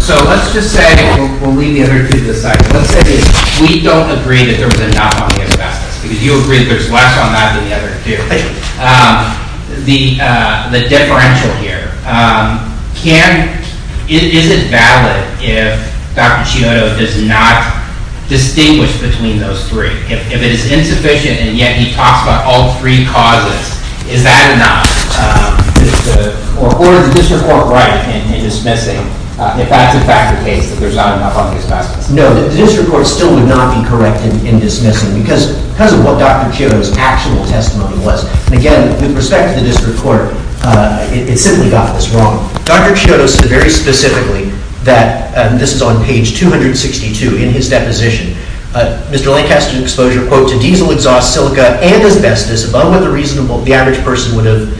So let's just say, we'll leave the other two to the side, let's say we don't agree that there was a knock on the asbestos, because you agree that there's less on that than the other two. The differential here, is it valid if Dr. Shinoda does not distinguish between those three? If it is insufficient and yet he talks about all three causes, is that enough? Or is the district court right in dismissing if that's in fact the case that there's not enough on the asbestos? No, the district court still would not be correct in dismissing because of what Dr. Chiodo's actual testimony was. And again, with respect to the district court, it simply got this wrong. Dr. Chiodo said very specifically that, and this is on page 262 in his deposition, Mr. Lancaster's exposure, quote, to diesel exhaust, silica, and asbestos, above what the average person would have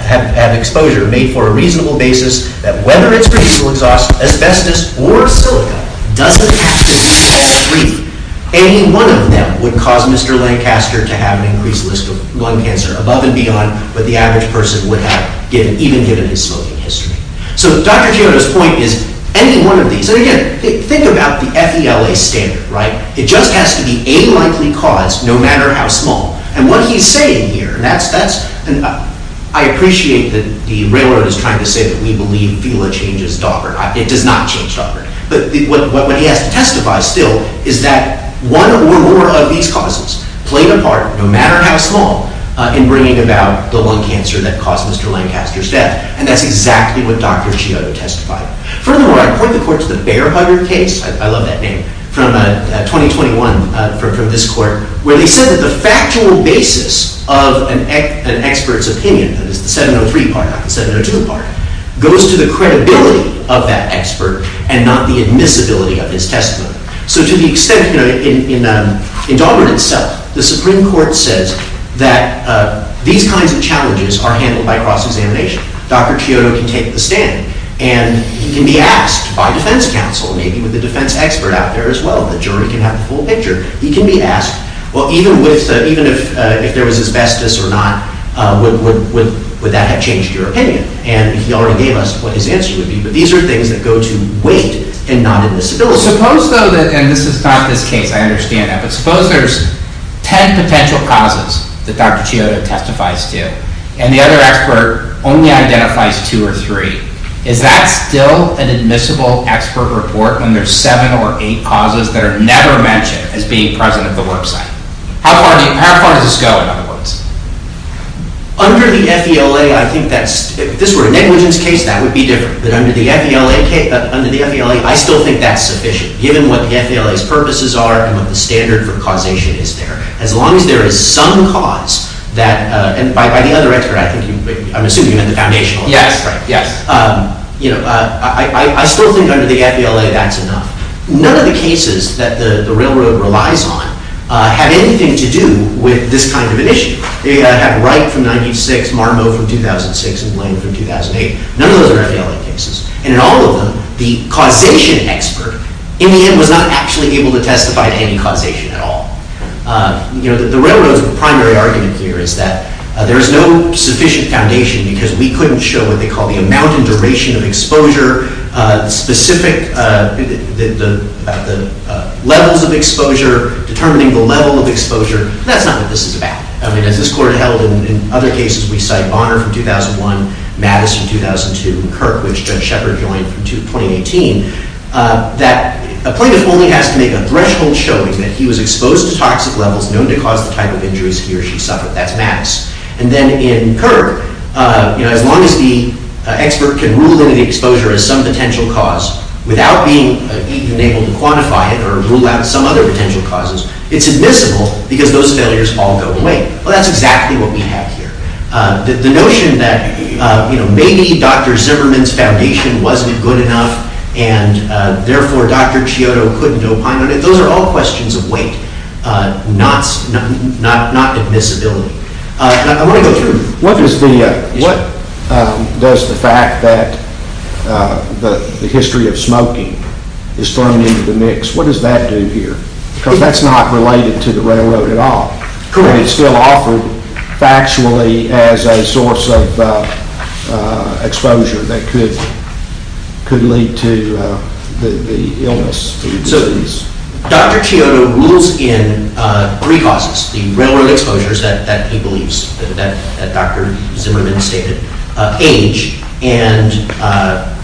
had exposure made for a reasonable basis, that whether it's for diesel exhaust, asbestos, or silica, doesn't have to be all three. Any one of them would cause Mr. Lancaster to have an increased list of lung cancer, above and beyond what the average person would have, even given his smoking history. So Dr. Chiodo's point is, any one of these, and again, think about the FELA standard, right? It just has to be a likely cause, no matter how small. And what he's saying here, and I appreciate that the railroad is trying to say that we believe FELA changes Dover. It does not change Dover. But what he has to testify, still, is that one or more of these causes played a part, no matter how small, in bringing about the lung cancer that caused Mr. Lancaster's death. And that's exactly what Dr. Chiodo testified. Furthermore, I point the court to the Bearhugger case, I love that name, from 2021, from this court, where they said that the factual basis of an expert's opinion, that is the 703 part, not the 702 part, goes to the credibility of that expert, and not the admissibility of his testimony. So to the extent, in Dover itself, the Supreme Court says that these kinds of challenges are handled by cross-examination. Dr. Chiodo can take the stand. And he can be asked, by defense counsel, maybe with a defense expert out there as well, the jury can have the full picture. He can be asked, well, even if there was asbestos or not, would that have changed your opinion? And he already gave us what his answer would be. But these are things that go to weight, and not admissibility. Suppose, though, and this is not this case, I understand that. But suppose there's 10 potential causes that Dr. Chiodo testifies to. And the other expert only identifies two or three. Is that still an admissible expert report when there's seven or eight causes that are never mentioned as being present at the website? How far does this go, in other words? Under the FELA, I think that's – if this were a negligence case, that would be different. But under the FELA, I still think that's sufficient, given what the FELA's purposes are and what the standard for causation is there. As long as there is some cause that – and by the other expert, I'm assuming you meant the foundational expert. Yes. I still think under the FELA that's enough. None of the cases that the railroad relies on have anything to do with this kind of an issue. They have Wright from 1996, Marmo from 2006, and Blaine from 2008. None of those are FELA cases. And in all of them, the causation expert, in the end, was not actually able to testify to any causation at all. You know, the railroad's primary argument here is that there is no sufficient foundation because we couldn't show what they call the amount and duration of exposure, the specific – the levels of exposure, determining the level of exposure. That's not what this is about. I mean, as this Court held in other cases, we cite Bonner from 2001, Mattis from 2002, and Kirk, which Judge Shepard joined from 2018, that a plaintiff only has to make a threshold showing that he was exposed to toxic levels known to cause the type of injuries he or she suffered. That's Mattis. And then in Kirk, you know, as long as the expert can rule in the exposure as some potential cause without being even able to quantify it or rule out some other potential causes, it's admissible because those failures all go away. Well, that's exactly what we have here. The notion that, you know, maybe Dr. Zimmerman's foundation wasn't good enough and therefore Dr. Chiodo couldn't opine on it, those are all questions of weight, not admissibility. I want to go through – What does the fact that the history of smoking is thrown into the mix, what does that do here? Because that's not related to the railroad at all. And it's still offered factually as a source of exposure that could lead to the illness. So Dr. Chiodo rules in three causes, the railroad exposures that he believes, that Dr. Zimmerman stated, age, and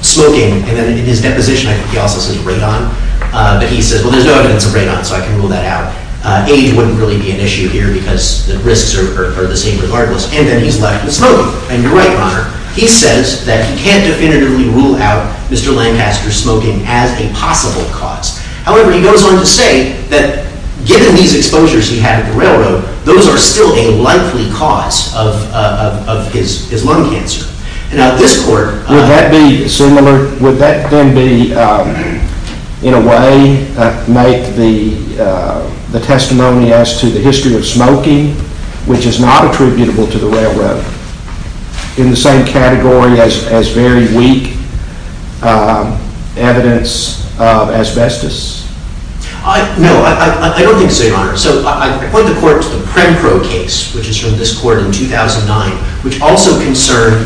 smoking. And then in his deposition, I think he also says radon. But he says, well, there's no evidence of radon, so I can rule that out. Age wouldn't really be an issue here because the risks are the same regardless. And then he's left with smoking. And you're right, Your Honor. He says that he can't definitively rule out Mr. Lancaster's smoking as a possible cause. However, he goes on to say that given these exposures he had at the railroad, those are still a likely cause of his lung cancer. Now this court Would that be similar? Would that then be, in a way, make the testimony as to the history of smoking, which is not attributable to the railroad, in the same category as very weak evidence of asbestos? No, I don't think so, Your Honor. So I point the court to the Prempro case, which is from this court in 2009, which also concerned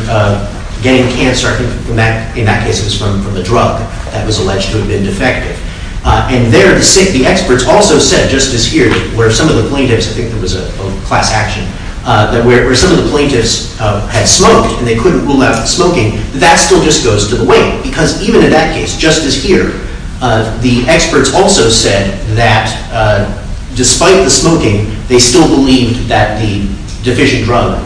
getting cancer. In that case, it was from a drug that was alleged to have been defective. And there, the experts also said, just as here, where some of the plaintiffs, I think there was a class action, where some of the plaintiffs had smoked and they couldn't rule out smoking, that still just goes to the weight. Because even in that case, just as here, the experts also said that despite the smoking, they still believed that the deficient drug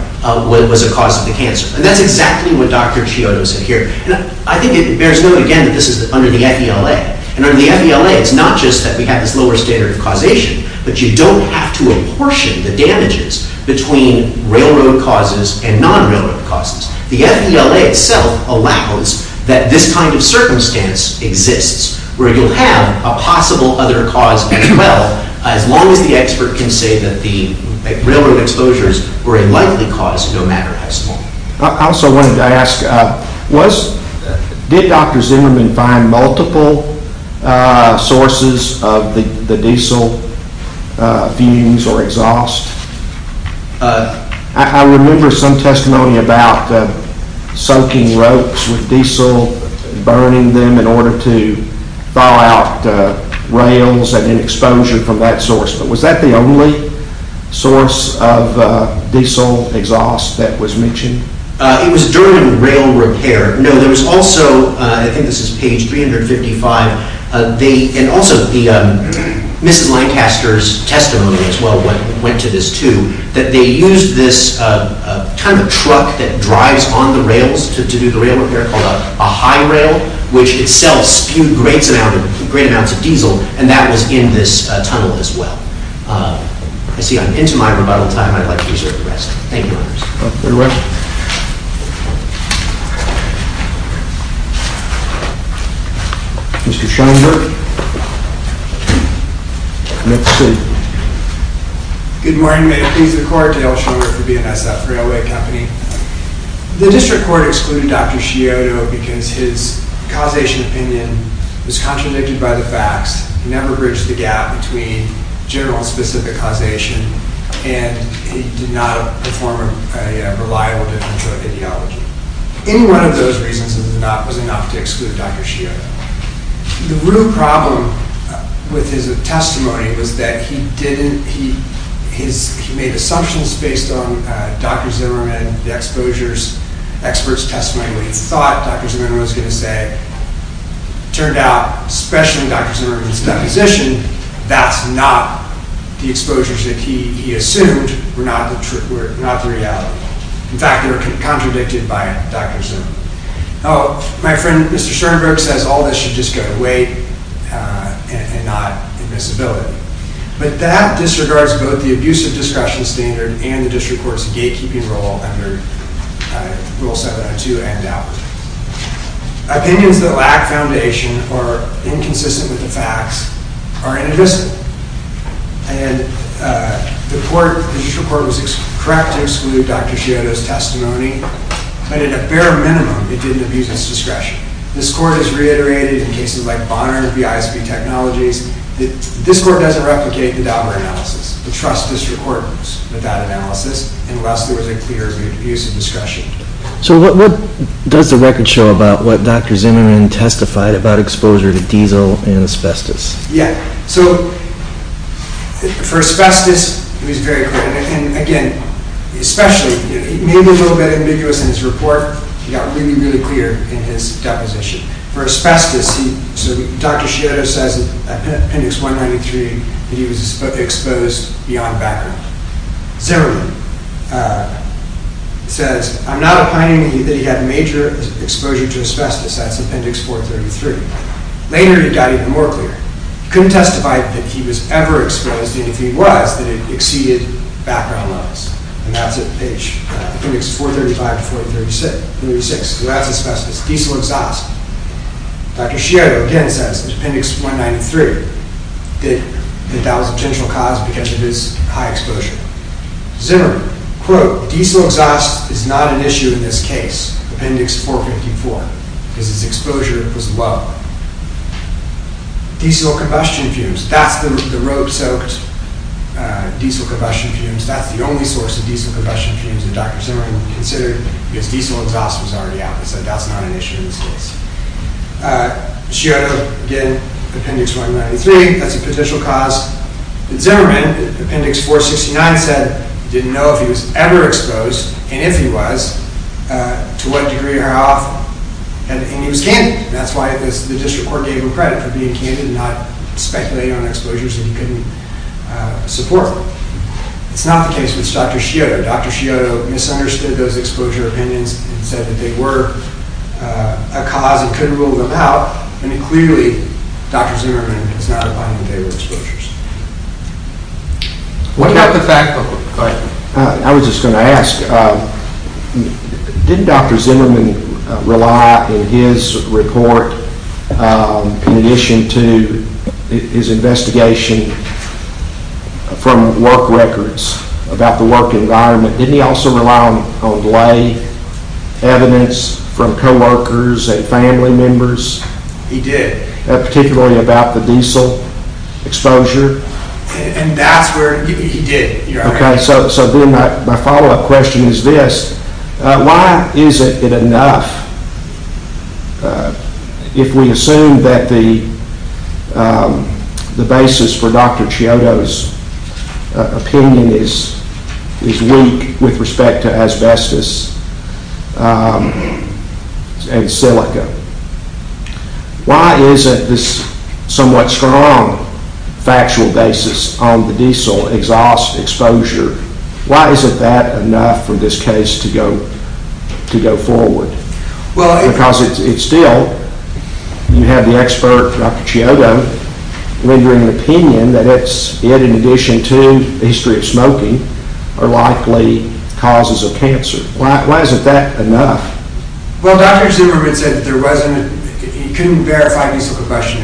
was a cause of the cancer. And that's exactly what Dr. Chiodo said here. And I think it bears note again that this is under the FELA. And under the FELA, it's not just that we have this lower standard of causation, but you don't have to apportion the damages between railroad causes and non-railroad causes. The FELA itself allows that this kind of circumstance exists, where you'll have a possible other cause as well, as long as the expert can say that the railroad exposures were a likely cause, no matter how small. I also wanted to ask, did Dr. Zimmerman find multiple sources of the diesel fumes or exhaust? I remember some testimony about soaking ropes with diesel, burning them in order to thaw out rails and exposure from that source. But was that the only source of diesel exhaust that was mentioned? It was during rail repair. No, there was also, I think this is page 355, and also Mrs. Lancaster's testimony as well went to this too, that they used this kind of truck that drives on the rails to do the rail repair, called a high rail, which itself spewed great amounts of diesel, and that was in this tunnel as well. I see I'm into my rebuttal time. I'd like to reserve the rest. Thank you, Your Honor. Mr. Scheinberg. Good morning. May it please the Court that I will show you for BNSF Railway Company. The District Court excluded Dr. Scioto because his causation opinion was contradicted by the facts. He never bridged the gap between general and specific causation, and he did not perform a reliable differential ideology. Any one of those reasons was enough to exclude Dr. Scioto. The real problem with his testimony was that he made assumptions based on Dr. Zimmerman, the expert's testimony, what he thought Dr. Zimmerman was going to say. It turned out, especially in Dr. Zimmerman's deposition, that's not the exposures that he assumed were not the reality. In fact, they were contradicted by Dr. Zimmerman. My friend, Mr. Scheinberg, says all this should just go to weight and not invisibility, but that disregards both the abusive discretion standard and the District Court's gatekeeping role under Rule 702 and out. Opinions that lack foundation or inconsistent with the facts are inadmissible, and the District Court was correct to exclude Dr. Scioto's testimony, but at a bare minimum, it didn't abuse his discretion. This Court has reiterated in cases like Bonner v. ISB Technologies that this Court doesn't replicate the Dauber analysis. The Trust District Court moves without analysis unless there was a clear abuse of discretion. So what does the record show about what Dr. Zimmerman testified about exposure to diesel and asbestos? Yeah, so for asbestos, it was very clear. And again, especially, maybe a little bit ambiguous in his report, he got really, really clear in his deposition. For asbestos, Dr. Scioto says in Appendix 193 that he was exposed beyond background. Zimmerman says, I'm not opining that he had major exposure to asbestos. That's Appendix 433. Later, he got even more clear. He couldn't testify that he was ever exposed, and if he was, that it exceeded background levels. And that's in Appendix 435 to 436. So that's asbestos, diesel exhaust. Dr. Scioto again says in Appendix 193 that that was a potential cause because of his high exposure. Zimmerman, quote, diesel exhaust is not an issue in this case, Appendix 454, because his exposure was low. Diesel combustion fumes. That's the road-soaked diesel combustion fumes. That's the only source of diesel combustion fumes that Dr. Zimmerman considered because diesel exhaust was already out. He said that's not an issue in this case. Scioto, again, Appendix 193, that's a potential cause. But Zimmerman, Appendix 469, said he didn't know if he was ever exposed, and if he was, to what degree or how often, and he was candid. That's why the district court gave him credit for being candid and not speculating on exposures that he couldn't support. It's not the case with Dr. Scioto. Dr. Scioto misunderstood those exposure opinions and said that they were a cause and couldn't rule them out, and clearly Dr. Zimmerman is not in favor of exposures. I was just going to ask, didn't Dr. Zimmerman rely in his report, in addition to his investigation from work records, about the work environment, didn't he also rely on delay evidence from co-workers and family members? He did. Particularly about the diesel exposure? And that's where he did. Okay, so then my follow-up question is this. Why is it enough if we assume that the basis for Dr. Scioto's opinion is weak with respect to asbestos and silica? Why isn't this somewhat strong factual basis on the diesel exhaust exposure, why isn't that enough for this case to go forward? Because it's still, you have the expert, Dr. Scioto, rendering an opinion that it's, in addition to the history of smoking, are likely causes of cancer. Why isn't that enough? Well, Dr. Zimmerman said that there wasn't, he couldn't verify diesel combustion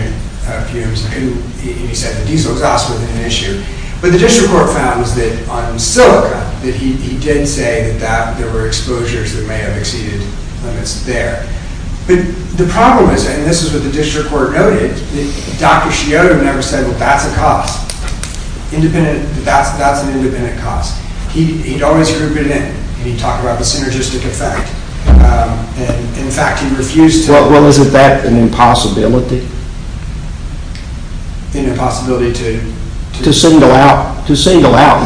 fumes, and he said the diesel exhaust was an issue. But the district court found that on silica, that he did say that there were exposures that may have exceeded limits there. But the problem is, and this is what the district court noted, that Dr. Scioto never said, well, that's a cost. That's an independent cost. He always grew a bit in it. He talked about the synergistic effect. In fact, he refused to... Well, isn't that an impossibility? An impossibility to... To single out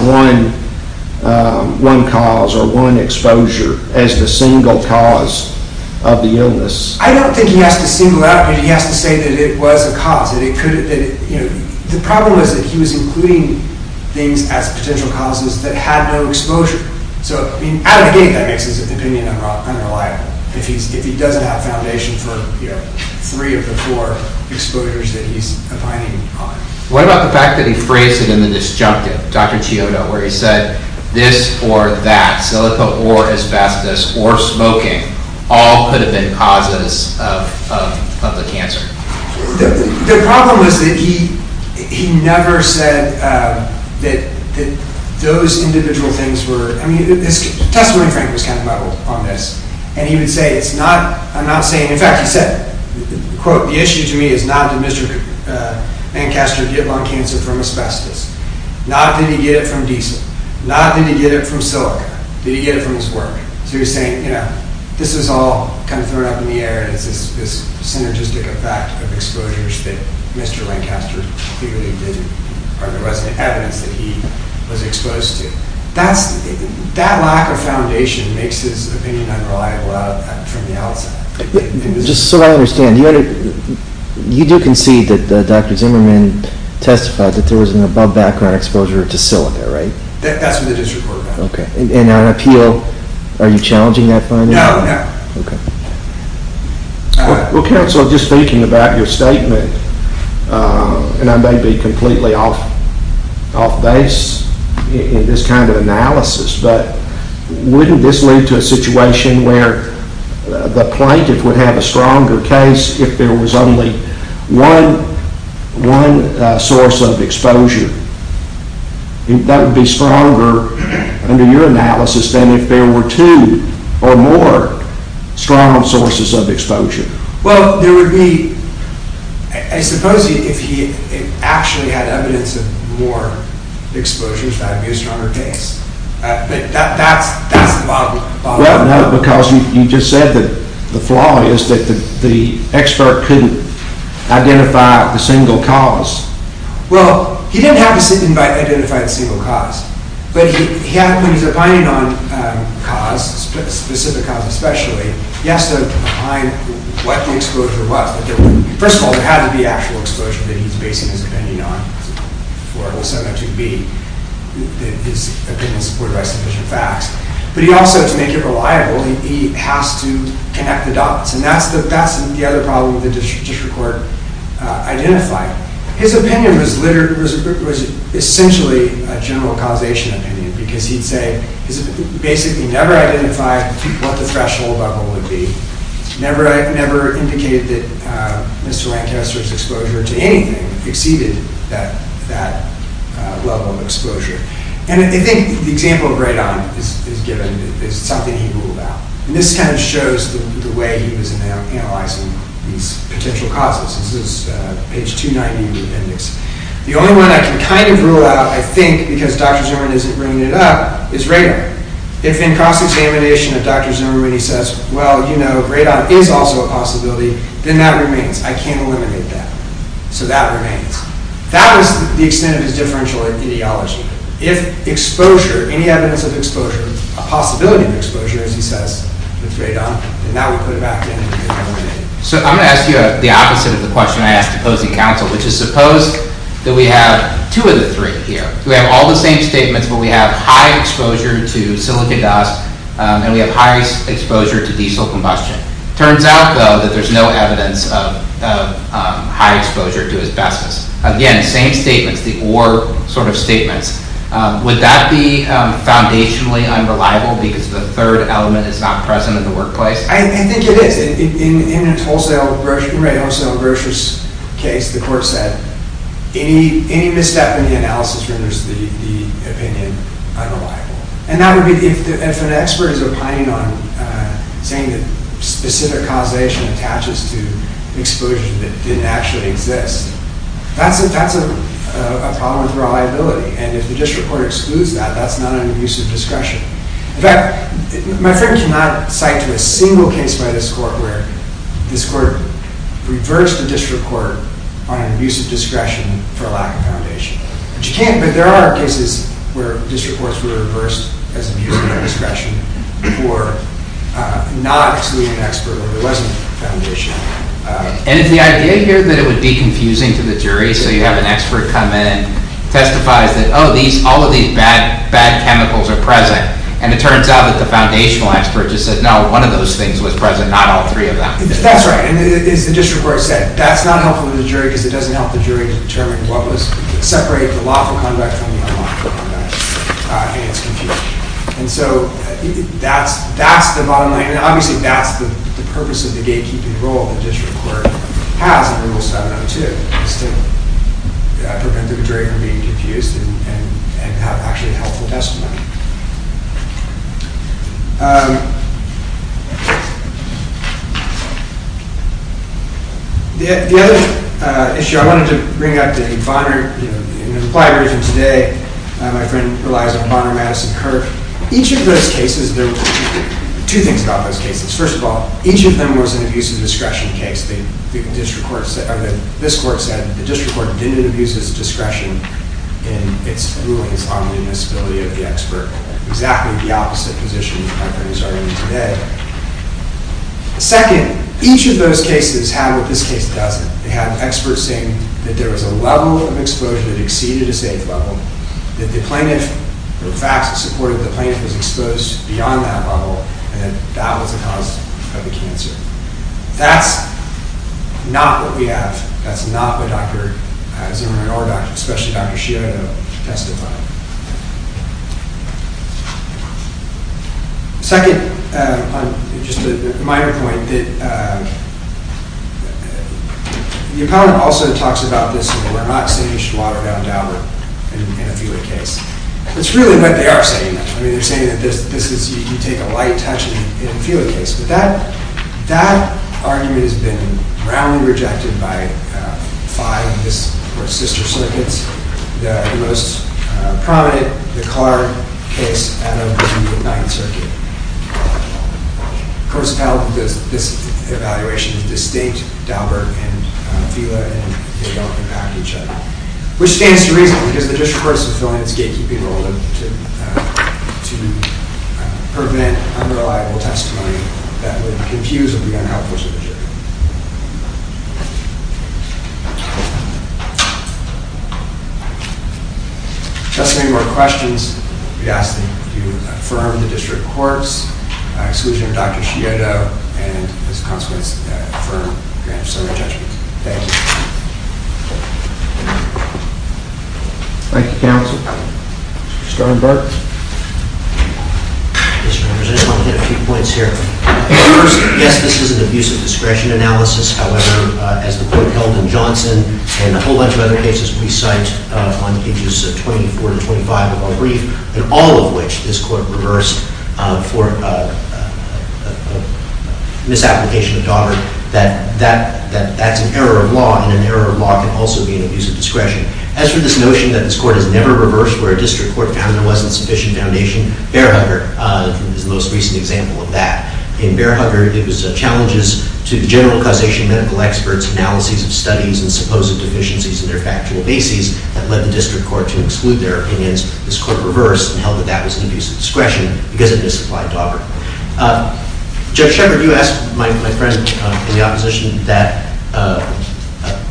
one cause or one exposure as the single cause of the illness. I don't think he has to single out, he has to say that it was a cause. The problem is that he was including things as potential causes that had no exposure. So, I mean, out of the gate, that makes his opinion unreliable, if he doesn't have foundation for three of the four exposures that he's opining on. What about the fact that he phrased it in the disjunctive, Dr. Scioto, where he said this or that, silica or asbestos or smoking, all could have been causes of the cancer? The problem is that he never said that those individual things were... I mean, his testimony, Frank, was kind of muddled on this. And he would say, it's not... I'm not saying... In fact, he said, quote, the issue to me is not did Mr. Mancaster get lung cancer from asbestos. Not did he get it from diesel. Not did he get it from silica. Did he get it from his work? So he was saying, you know, this is all kind of thrown up in the air as this synergistic effect of exposures that Mr. Lancaster clearly didn't... or there wasn't evidence that he was exposed to. That lack of foundation makes his opinion unreliable from the outside. Just so I understand, you do concede that Dr. Zimmerman testified that there was an above background exposure to silica, right? That's what the district court found. And on appeal, are you challenging that finding? No, no. Okay. Well, counsel, just thinking about your statement, and I may be completely off base in this kind of analysis, but wouldn't this lead to a situation where the plaintiff would have a stronger case if there was only one source of exposure? That would be stronger under your analysis than if there were two or more strong sources of exposure. Well, there would be... I suppose if he actually had evidence of more exposures, that would be a stronger case. But that's the bottom line. Well, no, because you just said that the flaw is that the expert couldn't identify the single cause. Well, he didn't have to identify the single cause, but when he's opining on cause, specific cause especially, he has to opine what the exposure was. First of all, there had to be actual exposure that he's basing his opinion on, for it was so much to be his opinion supported by sufficient facts. But he also, to make it reliable, he has to connect the dots. And that's the other problem the district court identified. His opinion was essentially a general causation opinion, because he'd say he basically never identified what the threshold level would be, never indicated that Mr. Lancaster's exposure to anything exceeded that level of exposure. And I think the example of Radon is something he ruled out. And this kind of shows the way he was analyzing these potential causes. This is page 290 of the appendix. The only one I can kind of rule out, I think, because Dr. Zimmerman isn't bringing it up, is Radon. If in cross-examination if Dr. Zimmerman says, well, you know, Radon is also a possibility, then that remains. I can't eliminate that. So that remains. That was the extent of his differential ideology. If exposure, any evidence of exposure, a possibility of exposure, as he says, with Radon, then that would put him back in and eliminate it. So I'm going to ask you the opposite of the question I asked opposing counsel, which is suppose that we have two of the three here. We have all the same statements, but we have high exposure to silicon dust, and we have high exposure to diesel combustion. Turns out, though, that there's no evidence of high exposure to asbestos. Again, same statements, the or sort of statements. Would that be foundationally unreliable because the third element is not present in the workplace? I think it is. In Ray's wholesale brochures case, the court said, any misstep in the analysis renders the opinion unreliable. And that would be if an expert is opining on saying that specific causation attaches to exposure that didn't actually exist. That's a problem with reliability. And if the district court excludes that, that's not an abuse of discretion. In fact, my friend cannot cite a single case by this court where this court reversed the district court on an abuse of discretion for lack of foundation. But there are cases where district courts were reversed as abuse of discretion for not excluding an expert where there wasn't foundation. And if the idea here that it would be confusing to the jury, so you have an expert come in, testifies that, oh, all of these bad chemicals are present. And it turns out that the foundational expert just said, no, one of those things was present, not all three of them. That's right. And as the district court said, that's not helpful to the jury because it doesn't help the jury to determine what was separated from the lawful conduct from the unlawful conduct, and it's confusing. And so that's the bottom line. And obviously that's the purpose of the gatekeeping role the district court has in Rule 702, is to prevent the jury from being confused and have, actually, a helpful testimony. The other issue I wanted to bring up in Bonner, in an implied version today, my friend relies on Bonner-Madison curve. Each of those cases, there were two things about those cases. First of all, each of them was an abuse of discretion case. This court said the district court didn't abuse its discretion in its rulings on the admissibility of the expert. Exactly the opposite position that my friend is arguing today. Second, each of those cases have what this case doesn't. They have experts saying that there was a level of exposure that exceeded a safe level, that the plaintiff, the facts support that the plaintiff was exposed beyond that level, and that that was the cause of the cancer. That's not what we have. That's not what Dr. Zimmerman or especially Dr. Scioto testified. Second, just a minor point, the appellant also talks about this, that we're not saying you should water it down in a felid case. That's really what they are saying. They're saying that you take a light touch in a felid case. But that argument has been roundly rejected by five of the sister circuits. The most prominent, the Carr case, out of the 9th Circuit. Of course, this evaluation is distinct. Dauberg and Fila and they don't impact each other. Which stands to reason, because the district court is fulfilling its gatekeeping role to prevent unreliable testimony that would confuse or be unhelpful to the jury. If there's any more questions, we ask that you affirm the district court's exclusion of Dr. Scioto and as a consequence, affirm Grants Zimmerman's judgment. Thank you. Thank you, counsel. Mr. Sternberg. Mr. Representative, I want to hit a few points here. First, yes, this is an abuse of discretion analysis. However, as the court held in Johnson and a whole bunch of other cases we cite on pages 24 to 25 of our brief, and all of which this court reversed for misapplication of Dauberg, that's an error of law, and an error of law can also be an abuse of discretion. As for this notion that this court has never reversed where a district court found there wasn't sufficient foundation, Bearhugger is the most recent example of that. In Bearhugger, it was challenges to general causation medical experts, analyses of studies, and supposed deficiencies in their factual bases that led the district court to exclude their opinions. This court reversed and held that that was an abuse of discretion because it misapplied Dauberg. Judge Shepard, you asked my friend in the opposition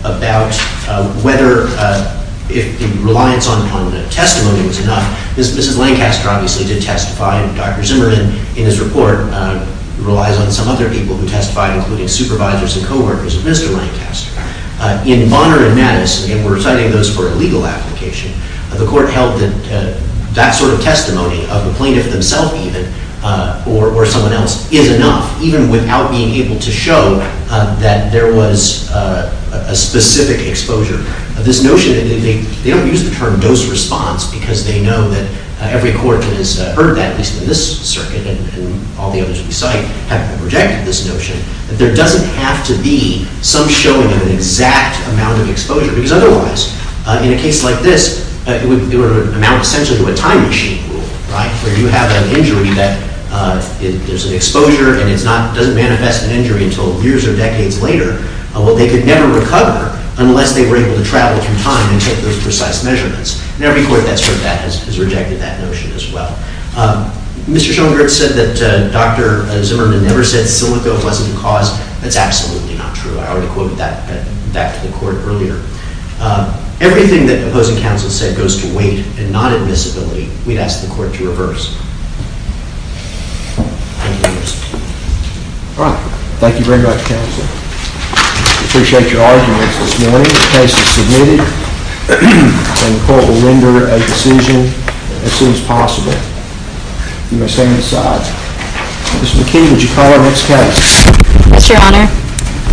about whether the reliance on testimony was enough. Mrs. Lancaster obviously did testify, and Dr. Zimmerman in his report relies on some other people who testified, including supervisors and co-workers of Mr. Lancaster. In Bonner and Mattis, and we're citing those for a legal application, the court held that that sort of testimony, of the plaintiff themselves even, or someone else, is enough, even without being able to show that there was a specific exposure. This notion, they don't use the term dose response because they know that every court that has heard that, at least in this circuit and all the others we cite, have rejected this notion, that there doesn't have to be some showing of an exact amount of exposure because otherwise, in a case like this, it would amount essentially to a time machine rule, right, where you have an injury that there's an exposure and it doesn't manifest an injury until years or decades later. Well, they could never recover unless they were able to travel through time and take those precise measurements. In every court that's heard that has rejected that notion as well. Mr. Schoenberg said that Dr. Zimmerman never said silico wasn't the cause. That's absolutely not true. I already quoted that back to the court earlier. Everything that opposing counsel said goes to weight and not invisibility. We'd ask the court to reverse. All right. Thank you very much, counsel. I appreciate your arguments this morning. The case is submitted. And the court will render a decision as soon as possible. You may stand to the side. Ms. McKee, would you call our next case? Yes, Your Honor.